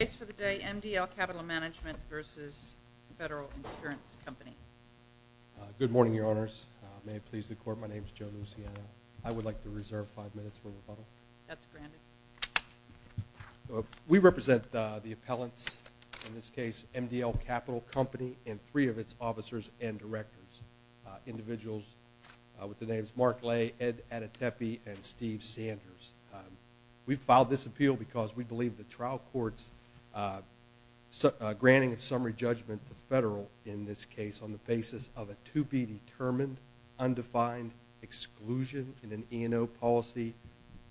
Good morning, Your Honors. May it please the Court, my name is Joe Luciano. I would like to reserve five minutes for rebuttal. We represent the appellants, in this case MDLCapital Company and three of its officers and directors, individuals with the names Mark Lay, Ed Adetepi, and Steve Granting a summary judgment to Federal in this case on the basis of a to be determined undefined exclusion in an E&O policy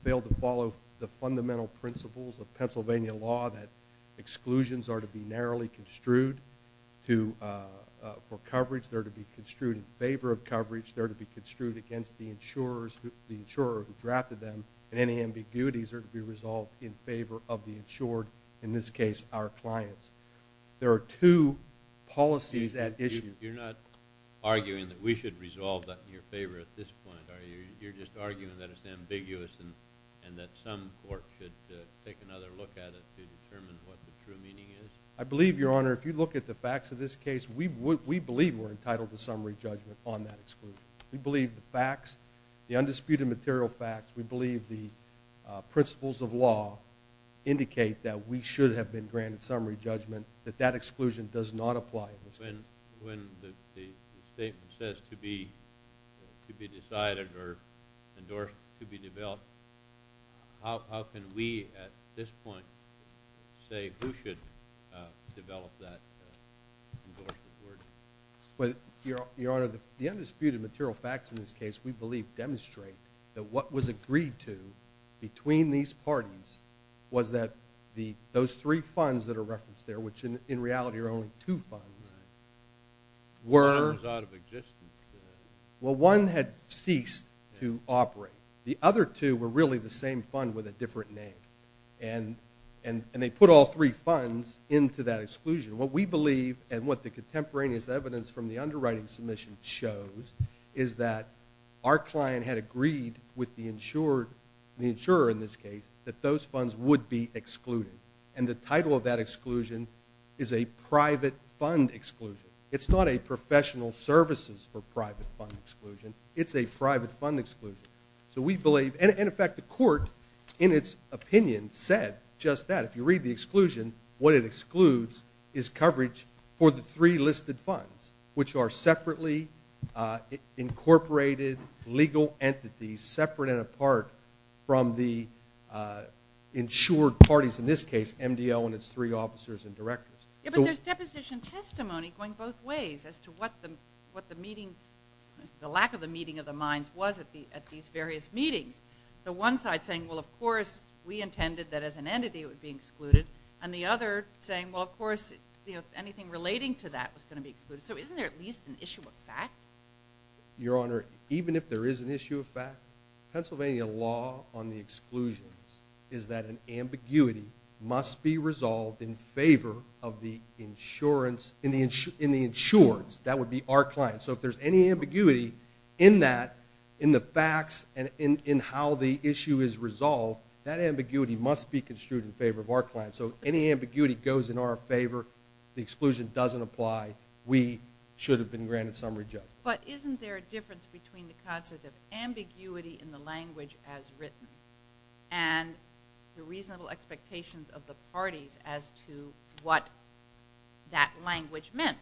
failed to follow the fundamental principles of Pennsylvania law that exclusions are to be narrowly construed for coverage, they're to be construed in favor of coverage, they're to be construed against the insurers, the insurer who drafted them, and any ambiguities are to be resolved in favor of the insured, in this case our clients. There are two policies at issue. You're not arguing that we should resolve that in your favor at this point, are you? You're just arguing that it's ambiguous and that some court should take another look at it to determine what the true meaning is? I believe, Your Honor, if you look at the facts of this case, we believe we're entitled to summary judgment on that exclusion. We believe the facts, the undisputed material facts, we believe the principles of law indicate that we should have been granted summary judgment, that that exclusion does not apply. When the statement says to be decided or endorsed to be developed, how can we at this point say who should develop that endorsement? Your Honor, the undisputed material facts in this case, we believe, demonstrate that what was agreed to between these parties was that those three funds that are referenced there, which in reality are only two funds, were out of existence. Well, one had ceased to operate. The other two were really the same fund with a different name, and they put all three funds into that exclusion. What we believe and what the contemporaneous evidence from the underwriting submission shows is that our client had agreed with the insurer in this case that those funds would be excluded, and the title of that exclusion is a private fund exclusion. It's not a professional services for private fund exclusion. It's a private fund exclusion. So we believe, and in fact the court in its opinion said just that. If you read the exclusion, what it excludes is coverage for the three listed funds, which are separately incorporated legal entities separate and apart from the insured parties, in this case MDL and its three officers and directors. But there's deposition testimony going both ways as to what the meeting, the lack of the meeting of the minds was at these various meetings. The one side saying, well, of course we intended that as an entity it would be excluded, and the other saying, well, of course, you know, anything relating to that was going to be excluded. So isn't there at least an issue of fact? Your Honor, even if there is an issue of fact, Pennsylvania law on the exclusions is that an ambiguity must be resolved in favor of the insurance, in the insurance, that would be our client. So if there's any ambiguity in that, in the facts and in how the issue is resolved, that ambiguity must be construed in favor of our client. So if any ambiguity goes in our favor, the exclusion doesn't apply, we should have been granted summary judgment. But isn't there a difference between the concept of ambiguity in the language as written and the reasonable expectations of the parties as to what that language meant?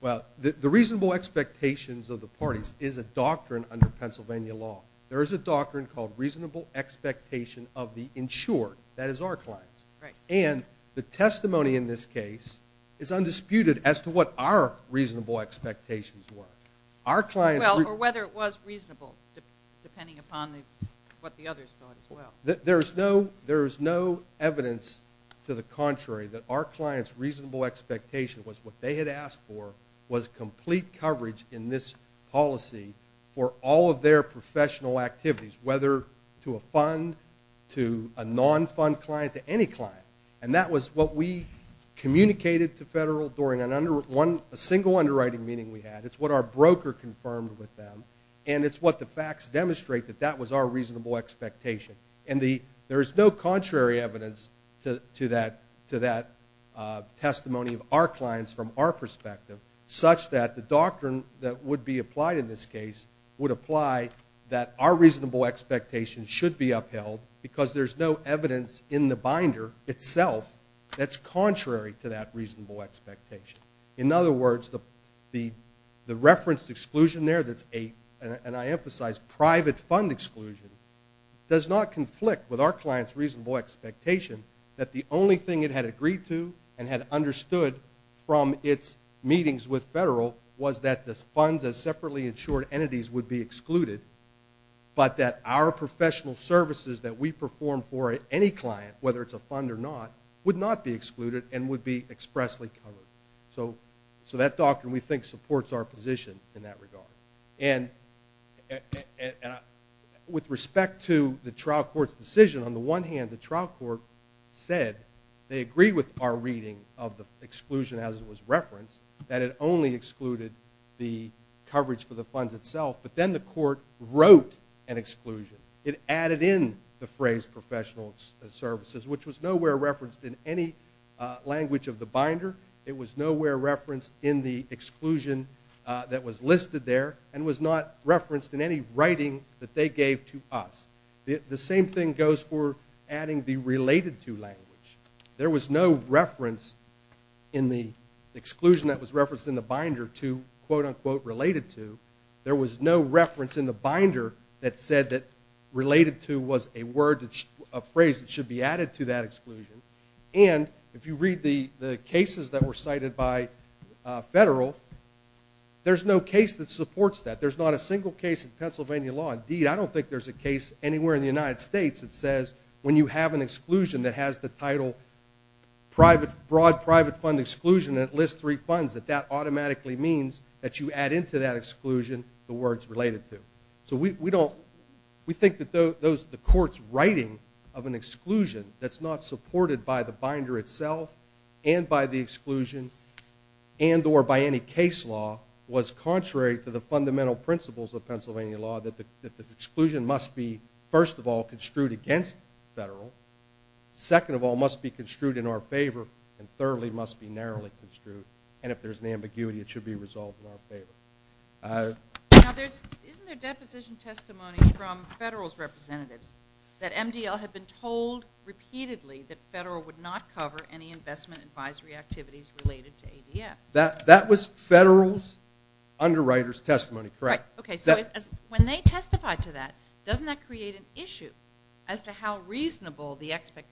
Well, the reasonable expectations of the parties is a doctrine under Pennsylvania law. There is a doctrine called reasonable expectation of the insured, that is our clients. And the testimony in this case is undisputed as to what our reasonable expectations were. Our clients... Well, or whether it was reasonable, depending upon what the others thought as well. There's no evidence to the contrary that our client's reasonable expectation was what they had asked for was complete coverage in this policy for all of their professional activities, whether to a fund, to a non-fund client, to any client. And that was what we communicated to federal during a single underwriting meeting we had. It's what our broker confirmed with them. And it's what the facts demonstrate that that was our reasonable expectation. And there is no contrary evidence to that testimony of our clients from our perspective, such that the doctrine that would be applied in this case would apply that our reasonable expectation should be upheld because there's no evidence in the binder itself that's contrary to that reasonable expectation. In other words, the referenced exclusion there that's a, and I emphasize, private fund exclusion, does not conflict with our client's reasonable expectation that the only thing it had agreed to and had understood from its meetings with federal was that the funds as separately insured entities would be excluded, but that our professional services that we perform for any client, whether it's a fund or not, would not be excluded and would be expressly covered. So that doctrine we think supports our position in that regard. And with respect to the trial court's decision, on the one hand the trial court said they agreed with our reading of the exclusion as it was referenced that it only excluded the coverage for the funds itself, but then the court wrote an exclusion. It added in the phrase professional services, which was nowhere referenced in any language of the binder. It was nowhere referenced in the exclusion that was listed there and was not referenced in any writing that they gave to us. The same thing goes for adding the related to language. There was no reference in the exclusion that was referenced in the binder to quote-unquote related to. There was no reference in the binder that said that related to was a phrase that should be added to that exclusion. And if you read the cases that were cited by federal, there's no case that supports that. There's not a single case in Pennsylvania law. Indeed, I don't think there's a case anywhere in the United States that says when you have an exclusion that has the title broad private fund exclusion and it lists three funds, that that automatically means that you add into that words related to. So we think that the court's writing of an exclusion that's not supported by the binder itself and by the exclusion and or by any case law was contrary to the fundamental principles of Pennsylvania law that the exclusion must be first of all construed against federal, second of all must be construed in our favor, and thirdly must be narrowly construed. And if there's an ambiguity it should be resolved in our favor. Now there's, isn't there deposition testimonies from federal's representatives that MDL had been told repeatedly that federal would not cover any investment advisory activities related to ADF? That was federal's underwriters testimony, correct. Okay, so when they testified to that, doesn't that create an issue as to how much coverage for anything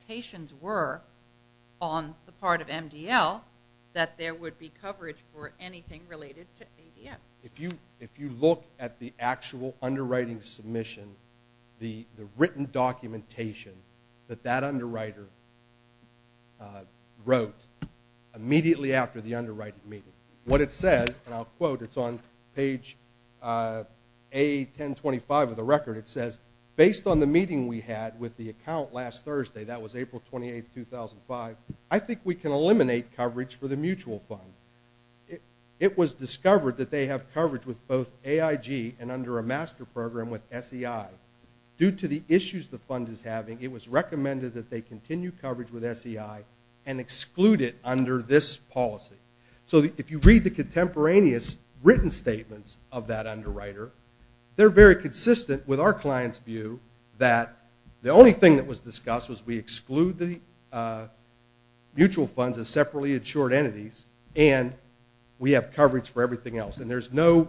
related to ADF? If you look at the actual underwriting submission, the written documentation that that underwriter wrote immediately after the underwriting meeting, what it says, and I'll quote, it's on page A1025 of the record, it says, based on the meeting we had with the account last Thursday, that was April 28, 2005, I think we can eliminate coverage for the mutual fund. It was discovered that they have coverage with both AIG and under a master program with SEI. Due to the issues the fund is having, it was recommended that they continue coverage with SEI and exclude it under this policy. So if you read the contemporaneous written statements of that underwriter, they're very consistent with our client's view that the only thing that was discussed was we exclude the mutual funds as separately insured entities, and we have coverage for everything else. And there's no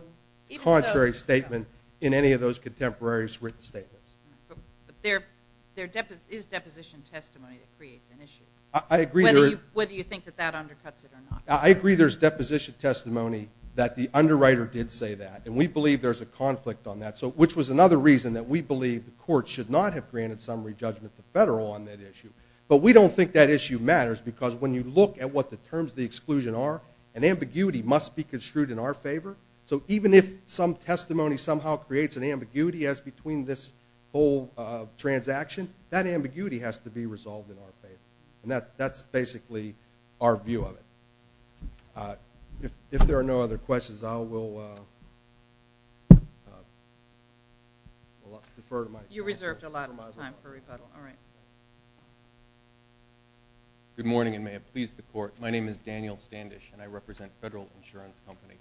contrary statement in any of those contemporaneous written statements. But there is deposition testimony that creates an issue, whether you think that that undercuts it or not. I agree there's deposition testimony that the underwriter did say that, and we believe there's a conflict on that, which was another reason that we believe the court should not have granted summary judgment to federal on that issue. But we don't think that issue matters, because when you look at what the terms of the exclusion are, an ambiguity must be construed in our favor. So even if some testimony somehow creates an ambiguity as between this whole transaction, that ambiguity has to be resolved in our favor. And that's basically our view of it. If there are no other questions, I will defer to Mike. You reserved a lot of time for rebuttal. All right. Good morning, and may it please the Court. My name is Daniel Standish, and I represent Federal Insurance Company.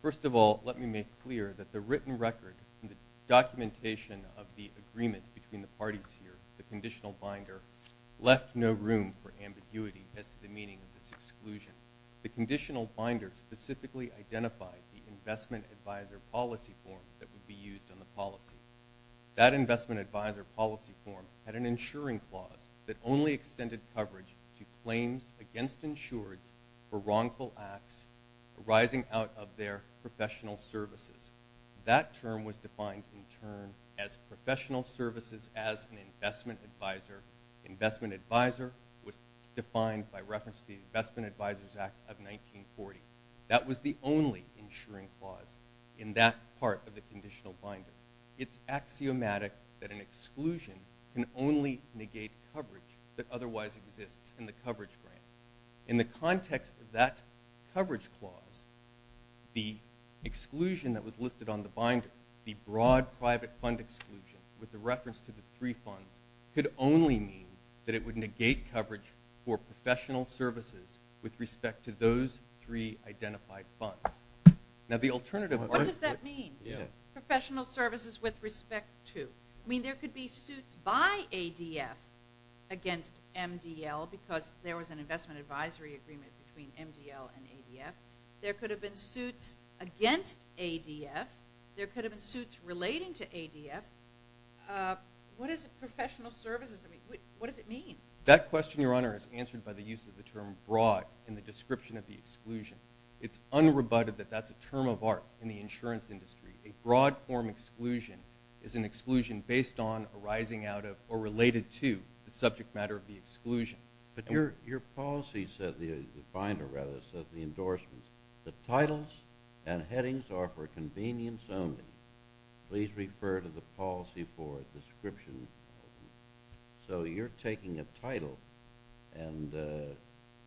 First of all, let me make clear that the written record and the documentation of the agreement between the parties here, the conditional binder, left no room for ambiguity as to the meaning of this exclusion. The conditional binder specifically identified the investment advisor policy form that would be used on the policy. That investment advisor policy form had an insuring clause that only extended coverage to claims against insureds for wrongful acts arising out of their professional services. That term was defined in turn as professional services as an investment advisor. Investment advisor was defined by reference to the Investment Advisors Act of 1940. That was the only insuring clause in that part of the conditional binder. It's axiomatic that an exclusion can only negate coverage that otherwise exists in the coverage grant. In the context of that coverage clause, the exclusion that was listed on the binder, the broad private fund exclusion with the reference to the three funds, could only mean that it would negate coverage for professional services with respect to those three identified funds. Now the alternative... What does that mean? Professional services with respect to? I mean, there could be suits by ADF against MDL because there was an investment advisory agreement between MDL and ADF. There could have been suits against ADF. There could have been suits relating to ADF. What is a professional services? I mean, what does it mean? That question, Your Honor, is answered by the use of the term broad in the description of the exclusion. It's unrebutted that that's a term of art in the insurance industry. A broad form exclusion is an exclusion based on arising out of or related to the subject matter of the exclusion. But your policy says, the binder rather, says the endorsement, the titles and headings are for convenience only. Please refer to the policy for a description. So you're taking a title and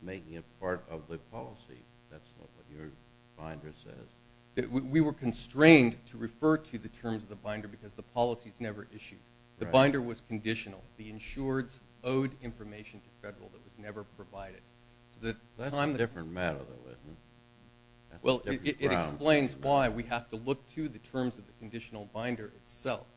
making it part of the policy. That's not what your binder says. We were constrained to refer to the terms of the binder because the policy's never issued. The binder was conditional. The insureds owed information to federal that was never provided. That's a different matter, though, isn't it? Well, it explains why we have to look to the terms of the conditional binder itself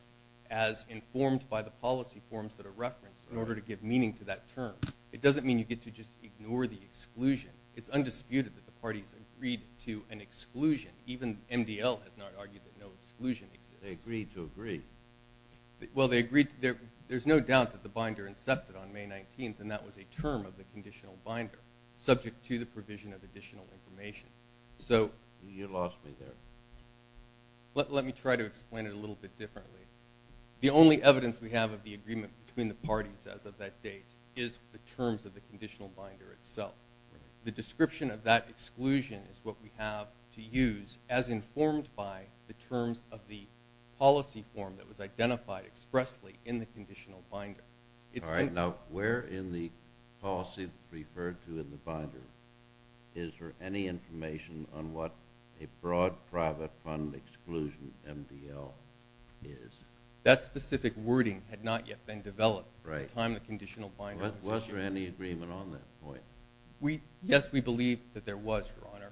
as informed by the policy forms that are referenced in order to give meaning to that term. It doesn't mean you get to just ignore the exclusion. It's undisputed that the parties agreed to an exclusion. Even MDL has not argued that no exclusion exists. They agreed to agree. Well, there's no doubt that the binder incepted on May 19th, and that was a term of the conditional binder, subject to the provision of additional information. You lost me there. Let me try to explain it a little bit differently. The only evidence we have of the agreement between the parties as of that date is the terms of the conditional binder itself. The description of that exclusion is what we have to use as informed by the terms of the policy form that was identified expressly in the conditional binder. All right. Now, where in the policy referred to in the binder is there any information on what a broad private fund exclusion MDL is? That specific wording had not yet been developed at the time the conditional binder was issued. Was there any agreement on that point? Yes, we believe that there was, Your Honor.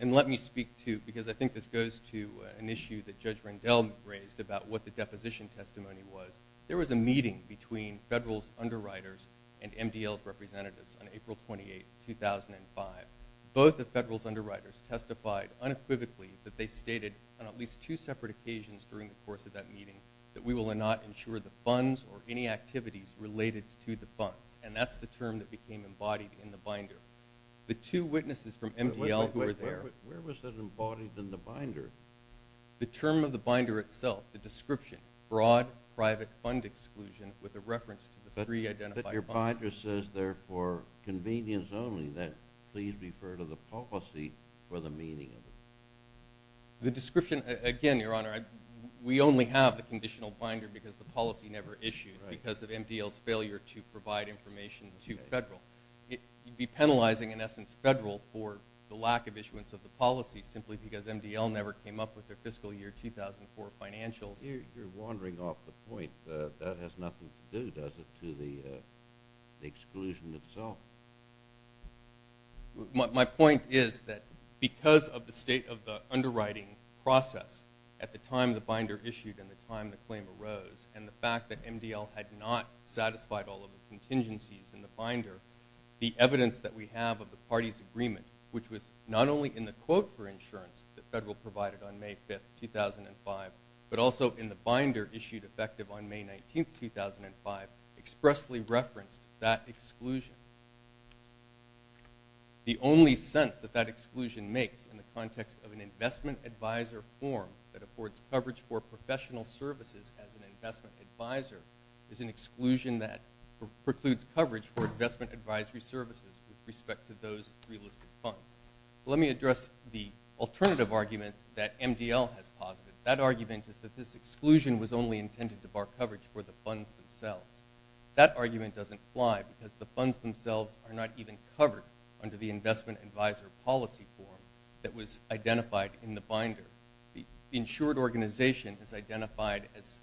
And let me speak, too, because I think this goes to an issue that Judge Rendell raised about what the deposition testimony was. There was a meeting between Federal's underwriters and MDL's representatives on April 28, 2005. Both the Federal's underwriters testified unequivocally that they stated on at least two separate occasions during the course of that meeting that we will not insure the funds or any activities related to the funds. And that's the term that became embodied in the binder. The two witnesses from MDL who were there. Where was that embodied in the binder? The term of the binder itself, the description, broad private fund exclusion with a reference to the three identified funds. But your binder says there for convenience only that please refer to the policy for the meaning of it. The description, again, Your Honor, we only have the conditional binder because the policy never issued because of MDL's failure to provide information to Federal. You'd be penalizing, in essence, Federal for the lack of issuance of the policy simply because MDL never came up with their fiscal year 2004 financials. You're wandering off the point. That has nothing to do, does it, to the exclusion itself? My point is that because of the state of the underwriting process at the time the binder issued and the time the claim arose and the fact that MDL had not satisfied all of the contingencies in the binder, the evidence that we have of the party's agreement, which was not only in the quote for insurance that Federal provided on May 5th, 2005, but also in the binder issued effective on May 19th, 2005, expressly referenced that exclusion. The only sense that that exclusion makes in the context of an investment advisor form that affords coverage for professional services as an investment advisor is an exclusion that precludes coverage for investment advisory services with respect to those three listed funds. Let me address the alternative argument that MDL has posited. That argument is that this exclusion was only intended to bar coverage for the funds themselves. That argument doesn't apply because the funds themselves are not even covered under the investment advisor policy form that was identified in the binder. The insured organization is identified as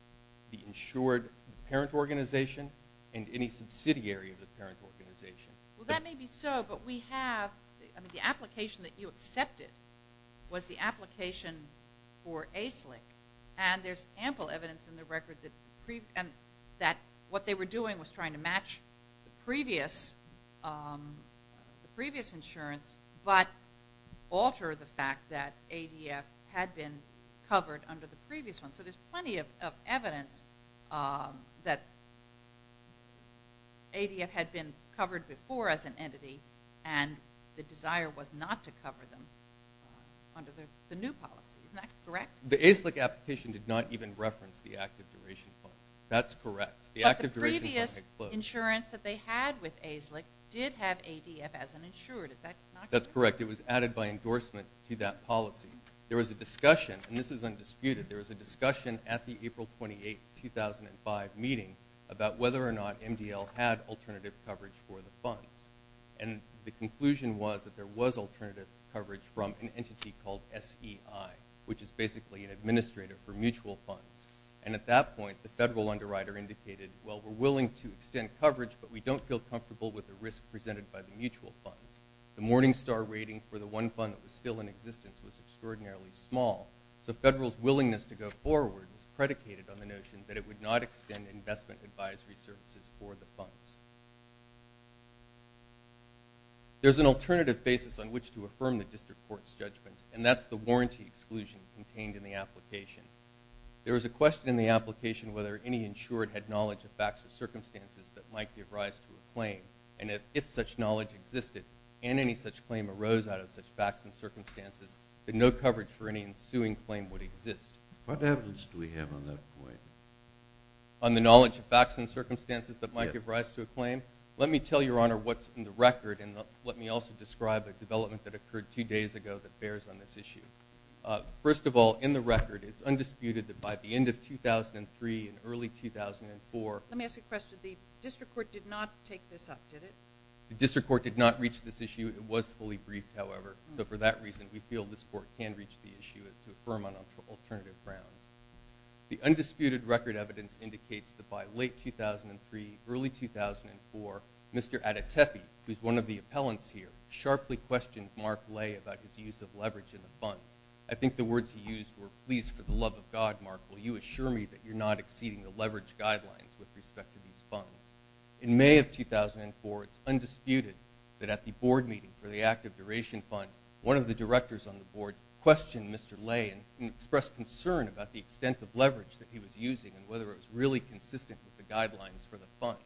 the insured parent organization and any subsidiary of the parent organization. Well, that may be so, but the application that you accepted was the application for ACELIC. And there's ample evidence in the record that what they were doing was trying to match the previous insurance but alter the fact that ADF had been covered under the previous one. So there's plenty of evidence that ADF had been covered before as an entity and the desire was not to cover them under the new policy. Isn't that correct? The ACELIC application did not even reference the active duration fund. That's correct. But the previous insurance that they had with ACELIC did have ADF as an insured. Is that not correct? That's correct. It was added by endorsement to that policy. There was a discussion, and this is undisputed. There was a discussion at the April 28, 2005 meeting about whether or not MDL had alternative coverage for the funds. And the conclusion was that there was alternative coverage from an entity called SEI, which is basically an administrator for mutual funds. And at that point, the federal underwriter indicated, well, we're willing to extend coverage, but we don't feel comfortable with the risk presented by the mutual funds. The Morningstar rating for the one fund that was still in existence was extraordinarily small. So federal's willingness to go forward was predicated on the notion that it would not extend investment advisory services for the funds. There's an alternative basis on which to affirm the district court's judgment, and that's the warranty exclusion contained in the application. There was a question in the application whether any insured had knowledge of facts or circumstances that might give rise to a claim. And if such knowledge existed, and any such claim arose out of such facts and circumstances, then no coverage for any ensuing claim would exist. What evidence do we have on that point? On the knowledge of facts and circumstances that might give rise to a claim? Let me tell Your Honor what's in the record, and let me also describe a development that occurred two days ago that bears on this issue. First of all, in the record, it's undisputed that by the end of 2003 and early 2004 Let me ask you a question. The district court did not take this up, did it? The district court did not reach this issue. It was fully briefed, however. So for that reason, we feel this court can reach the issue to affirm on alternative grounds. The undisputed record evidence indicates that by late 2003, early 2004, Mr. Adetepi, who's one of the appellants here, sharply questioned Mark Lay about his use of leverage in the funds. I think the words he used were, Please, for the love of God, Mark, will you assure me that you're not exceeding the leverage guidelines with respect to these funds? In May of 2004, it's undisputed that at the board meeting for the Active Duration Fund, one of the directors on the board questioned Mr. Lay and expressed concern about the extent of leverage that he was using and whether it was really consistent with the guidelines for the funds.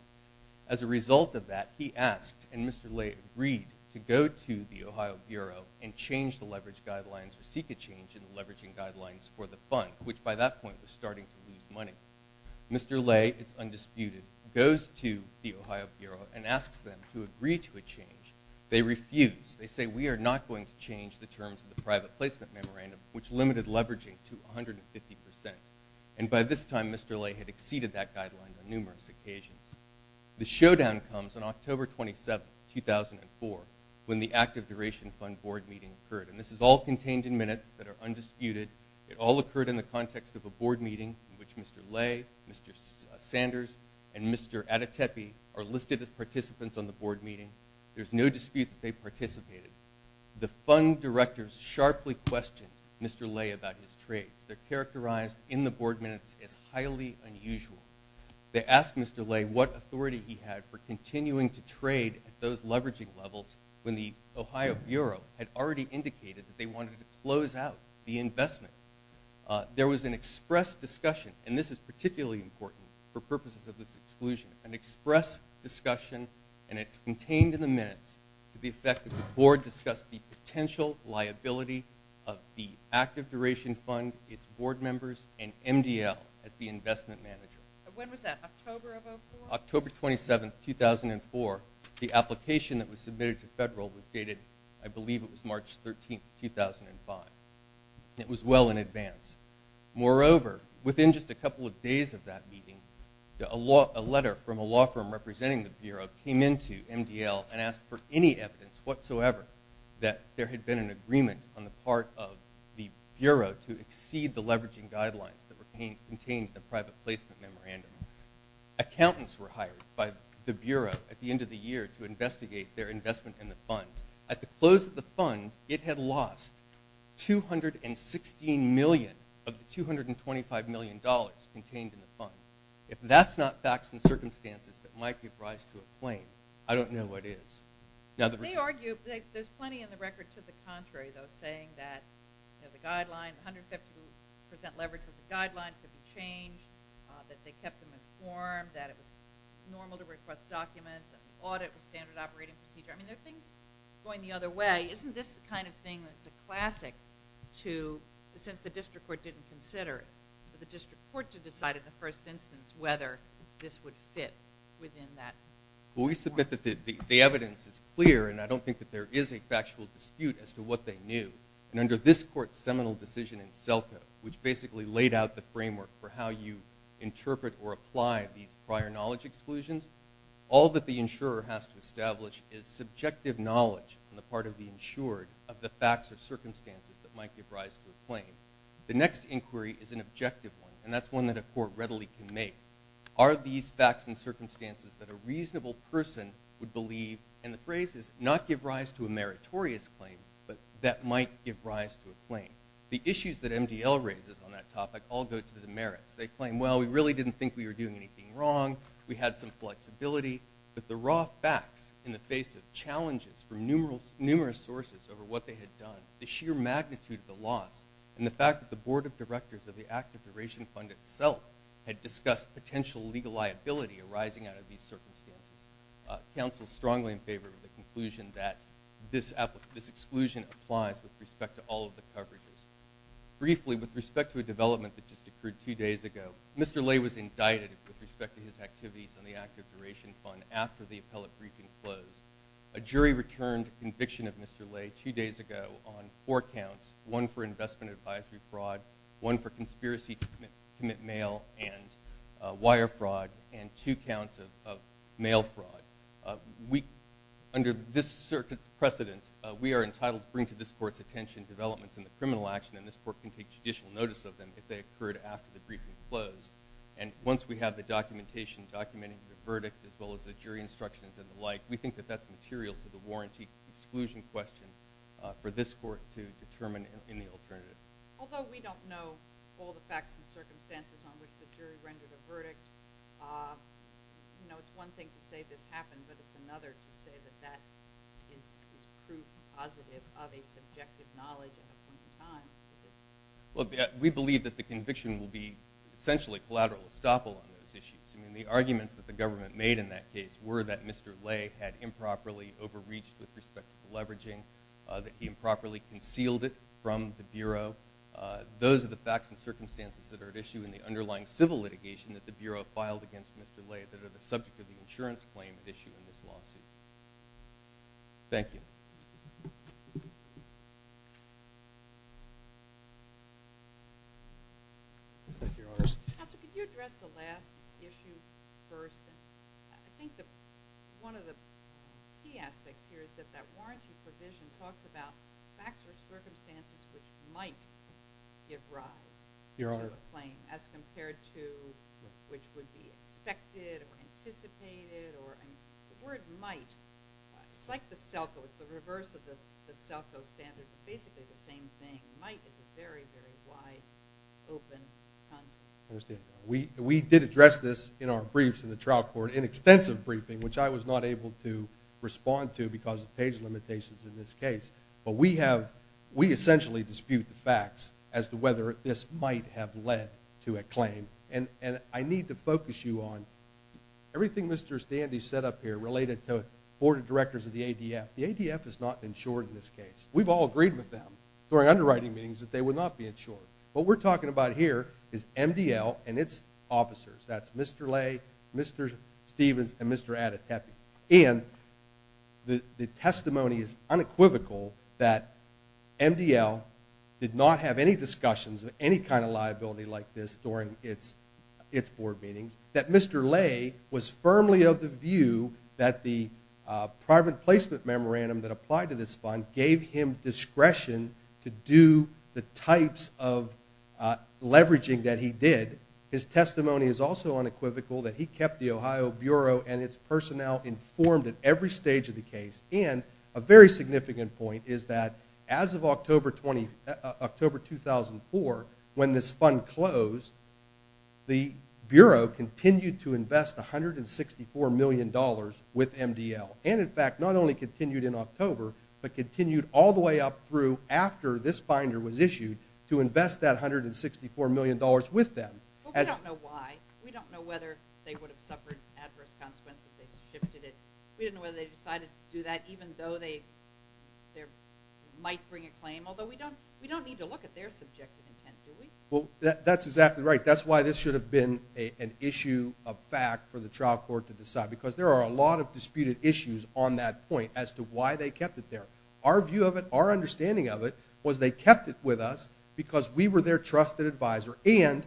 As a result of that, he asked, and Mr. Lay agreed, to go to the Ohio Bureau and change the leverage guidelines or seek a change in the leveraging guidelines for the fund, which by that point was starting to lose money. Mr. Lay, it's undisputed, goes to the Ohio Bureau and asks them to agree to a change. They refuse. They say, We are not going to change the terms of the private placement memorandum, which limited leveraging to 150%. And by this time, Mr. Lay had exceeded that guideline on numerous occasions. The showdown comes on October 27, 2004, when the Active Duration Fund board meeting occurred. And this is all contained in minutes that are undisputed. It all occurred in the context of a board meeting in which Mr. Lay, Mr. Sanders, and Mr. Adetepi are listed as participants on the board meeting. There's no dispute that they participated. The fund directors sharply questioned Mr. Lay about his trades. They're characterized in the board minutes as highly unusual. They asked Mr. Lay what authority he had for continuing to trade at those leveraging levels when the Ohio Bureau had already indicated that they wanted to close out the investment. There was an express discussion, and this is particularly important for purposes of this exclusion, an express discussion, and it's contained in the minutes to the effect that the board discussed the potential liability of the Active Duration Fund, its board members, and MDL as the investment manager. When was that, October of 2004? October 27, 2004. The application that was submitted to federal was dated, I believe it was March 13, 2005. It was well in advance. Moreover, within just a couple of days of that meeting, a letter from a law firm representing the Bureau came in to MDL and asked for any evidence whatsoever that there had been an agreement on the part of the Bureau to exceed the leveraging guidelines that were contained in the private placement memorandum. Accountants were hired by the Bureau at the end of the year to investigate their investment in the fund. At the close of the fund, it had lost $216 million of the $225 million contained in the fund. If that's not facts and circumstances that might give rise to a claim, I don't know what is. They argue that there's plenty in the record to the contrary, though, saying that the guideline, 150% leverage was a guideline, could be changed, that they kept them informed, that it was normal to request documents, and the audit was standard operating procedure. I mean, there are things going the other way. Isn't this the kind of thing that's a classic to, since the district court didn't consider it, for the district court to decide in the first instance whether this would fit within that? Well, we submit that the evidence is clear, and I don't think that there is a factual dispute as to what they knew. And under this court's seminal decision in Selka, which basically laid out the framework for how you interpret or apply these prior knowledge exclusions, all that the insurer has to establish is subjective knowledge on the part of the insured of the facts or circumstances that might give rise to a claim. The next inquiry is an objective one, and that's one that a court readily can make. Are these facts and circumstances that a reasonable person would believe? And the phrase is, not give rise to a meritorious claim, but that might give rise to a claim. The issues that MDL raises on that topic all go to the merits. They claim, well, we really didn't think we were doing anything wrong, we had some flexibility, but the raw facts in the face of challenges from numerous sources over what they had done, the sheer magnitude of the loss, and the fact that the board of directors of the Active Duration Fund itself had discussed potential legal liability arising out of these circumstances. Council's strongly in favor of the conclusion that this exclusion applies with respect to all of the coverages. Briefly, with respect to a development that just occurred two days ago, Mr. Lay was indicted with respect to his activities on the Active Duration Fund after the appellate briefing closed. A jury returned a conviction of Mr. Lay two days ago on four counts, one for investment advisory fraud, one for conspiracy to commit mail and wire fraud, and two counts of mail fraud. Under this circuit's precedent, we are entitled to bring to this court's attention developments in the criminal action, and this court can take judicial notice of them if they occurred after the briefing closed. And once we have the documentation documenting the verdict, as well as the jury instructions and the like, we think that that's material to the warranty exclusion question for this court to determine in the alternative. Although we don't know all the facts and circumstances on which the jury rendered a verdict, you know, it's one thing to say this happened, but it's another to say that that is proof positive of a subjective knowledge at a point in time. We believe that the conviction will be essentially collateral estoppel on those issues. I mean, the arguments that the government made in that case were that Mr. Lay had improperly overreached with respect to the leveraging, that he improperly concealed it from the Bureau. Those are the facts and circumstances that are at issue in the underlying civil litigation that the Bureau filed against Mr. Lay that are the subject of the insurance claim at issue in this lawsuit. Thank you. Counsel, could you address the last issue first? I think that one of the key aspects here is that that warranty provision talks about facts or circumstances which might give rise to a claim as compared to which would be expected or anticipated or, I mean, the word might it's like the SELCO, it's the reverse of the SELCO standard basically the same thing. Might is a very, very wide, open concept. I understand. We did address this in our briefs in the trial court, in extensive briefing, which I was not able to respond to because of page limitations in this case. But we have, we essentially dispute the facts as to whether this might have led to a claim. And I need to focus you on everything Mr. Standy set up here related to board of directors of the ADF. The ADF has not been insured in this case. We've all agreed with them during underwriting meetings that they would not be insured. What we're talking about here is MDL and it's officers. That's Mr. Lay, Mr. Stevens, and Mr. Adetepi. And the testimony is unequivocal that MDL did not have any discussions of any kind of liability like this during its board meetings. That Mr. Lay was firmly of the view that the private placement memorandum that applied to this fund gave him discretion to do the types of leveraging that he did. His testimony is also Bureau and it's personnel informed at every stage of the case. And a very significant point is that as of October 2004 when this fund closed the Bureau continued to invest $164 million with MDL. And in fact not only continued in October but continued all the way up through after this binder was issued to invest that $164 million with them. We don't know why. We don't know whether they would have suffered adverse consequences if they shifted it. We don't know whether they decided to do that even though they might bring a claim. Although we don't need to look at their subjective intent, do we? Well, that's exactly right. That's why this should have been an issue of fact for the trial court to decide. Because there are a lot of disputed issues on that point as to why they kept it there. Our view of it, our understanding of it was they kept it with us because we were their trusted advisor. And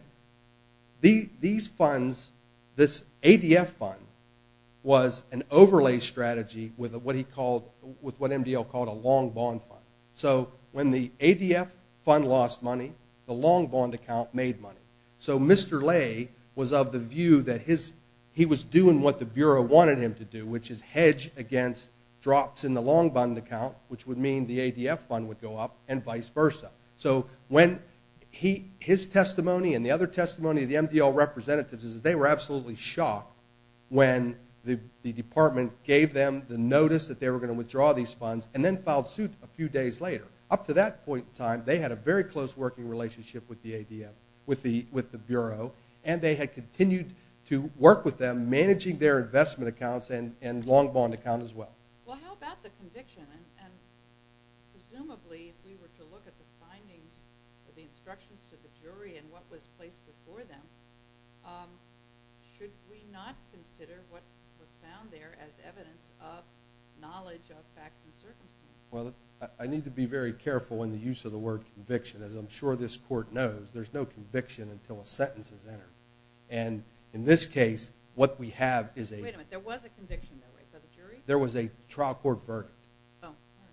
these funds, this ADF fund was an overlay strategy with what he called with what MDL called a long bond fund. So when the ADF fund lost money, the long bond account made money. So Mr. Lay was of the view that he was doing what the Bureau wanted him to do, which is hedge against drops in the long bond account, which would mean the ADF fund would go up and vice versa. So when he, his testimony and the other testimony of the MDL representatives is they were absolutely shocked when the department gave them the notice that they were going to withdraw these funds and then filed suit a few days later. Up to that point in time, they had a very close working relationship with the ADF, with the Bureau, and they had continued to work with them, managing their investment accounts and long bond account as well. Well, how about the conviction and presumably if we were to look at the findings of the instructions to the jury and what was placed before them, should we not consider what was found there as evidence of knowledge of facts and circumstances? Well, I need to be very careful in the use of the word conviction. As I'm sure this court knows, there's no conviction until a sentence is entered. And in this case, what we have is a Wait a minute, there was a conviction though, right? By the jury? There was a trial court verdict.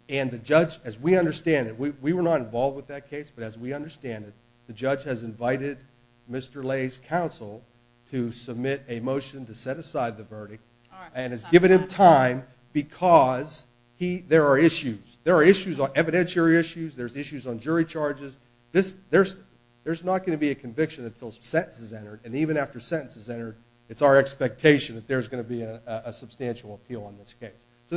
And the judge, as we understand it, we were not involved with that case, but as we understand it, the judge has invited Mr. Lay's counsel to submit a motion to set aside the verdict and has given him time because there are issues. There are issues, evidentiary issues, there's issues on jury charges. There's not going to be a conviction until a sentence is entered, and even after a sentence is entered, it's our expectation that there's going to be a substantial appeal on this case. So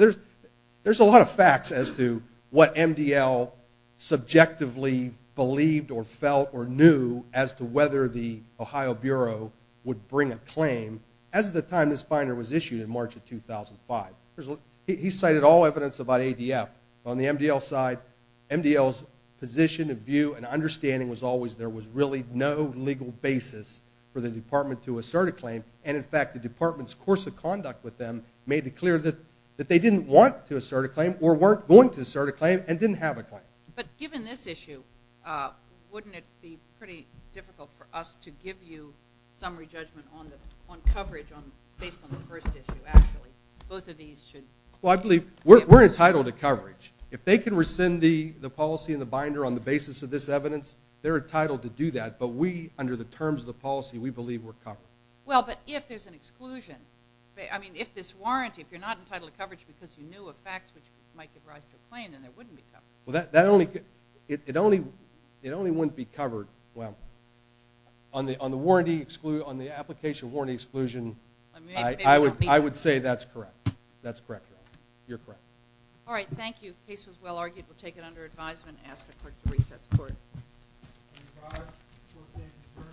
there's a lot of facts as to what MDL subjectively believed or felt or knew as to whether the Ohio Bureau would bring a claim as of the time this binder was issued in March of 2005. He cited all evidence about ADF. On the MDL side, MDL's position and view and understanding was always there was really no legal basis for the department to assert a claim. And in fact, the department's conduct with them made it clear that they didn't want to assert a claim or weren't going to assert a claim and didn't have a claim. But given this issue, wouldn't it be pretty difficult for us to give you summary judgment on coverage based on the first issue, actually? Both of these should... Well, I believe we're entitled to coverage. If they can rescind the policy in the binder on the basis of this evidence, they're entitled to do that. But we, under the terms of the policy, we believe we're covered. Well, but if there's an exclusion, I mean, if this warranty, if you're not entitled to coverage because you knew of facts which might give rise to a claim, then it wouldn't be covered. Well, that only... It only wouldn't be covered... Well, on the warranty exclusion, on the application warranty exclusion, I would say that's correct. That's correct, Your Honor. You're correct. Alright, thank you. The case was well argued. We'll take it under advisement and ask the court to recess court. Thank you, Your Honor.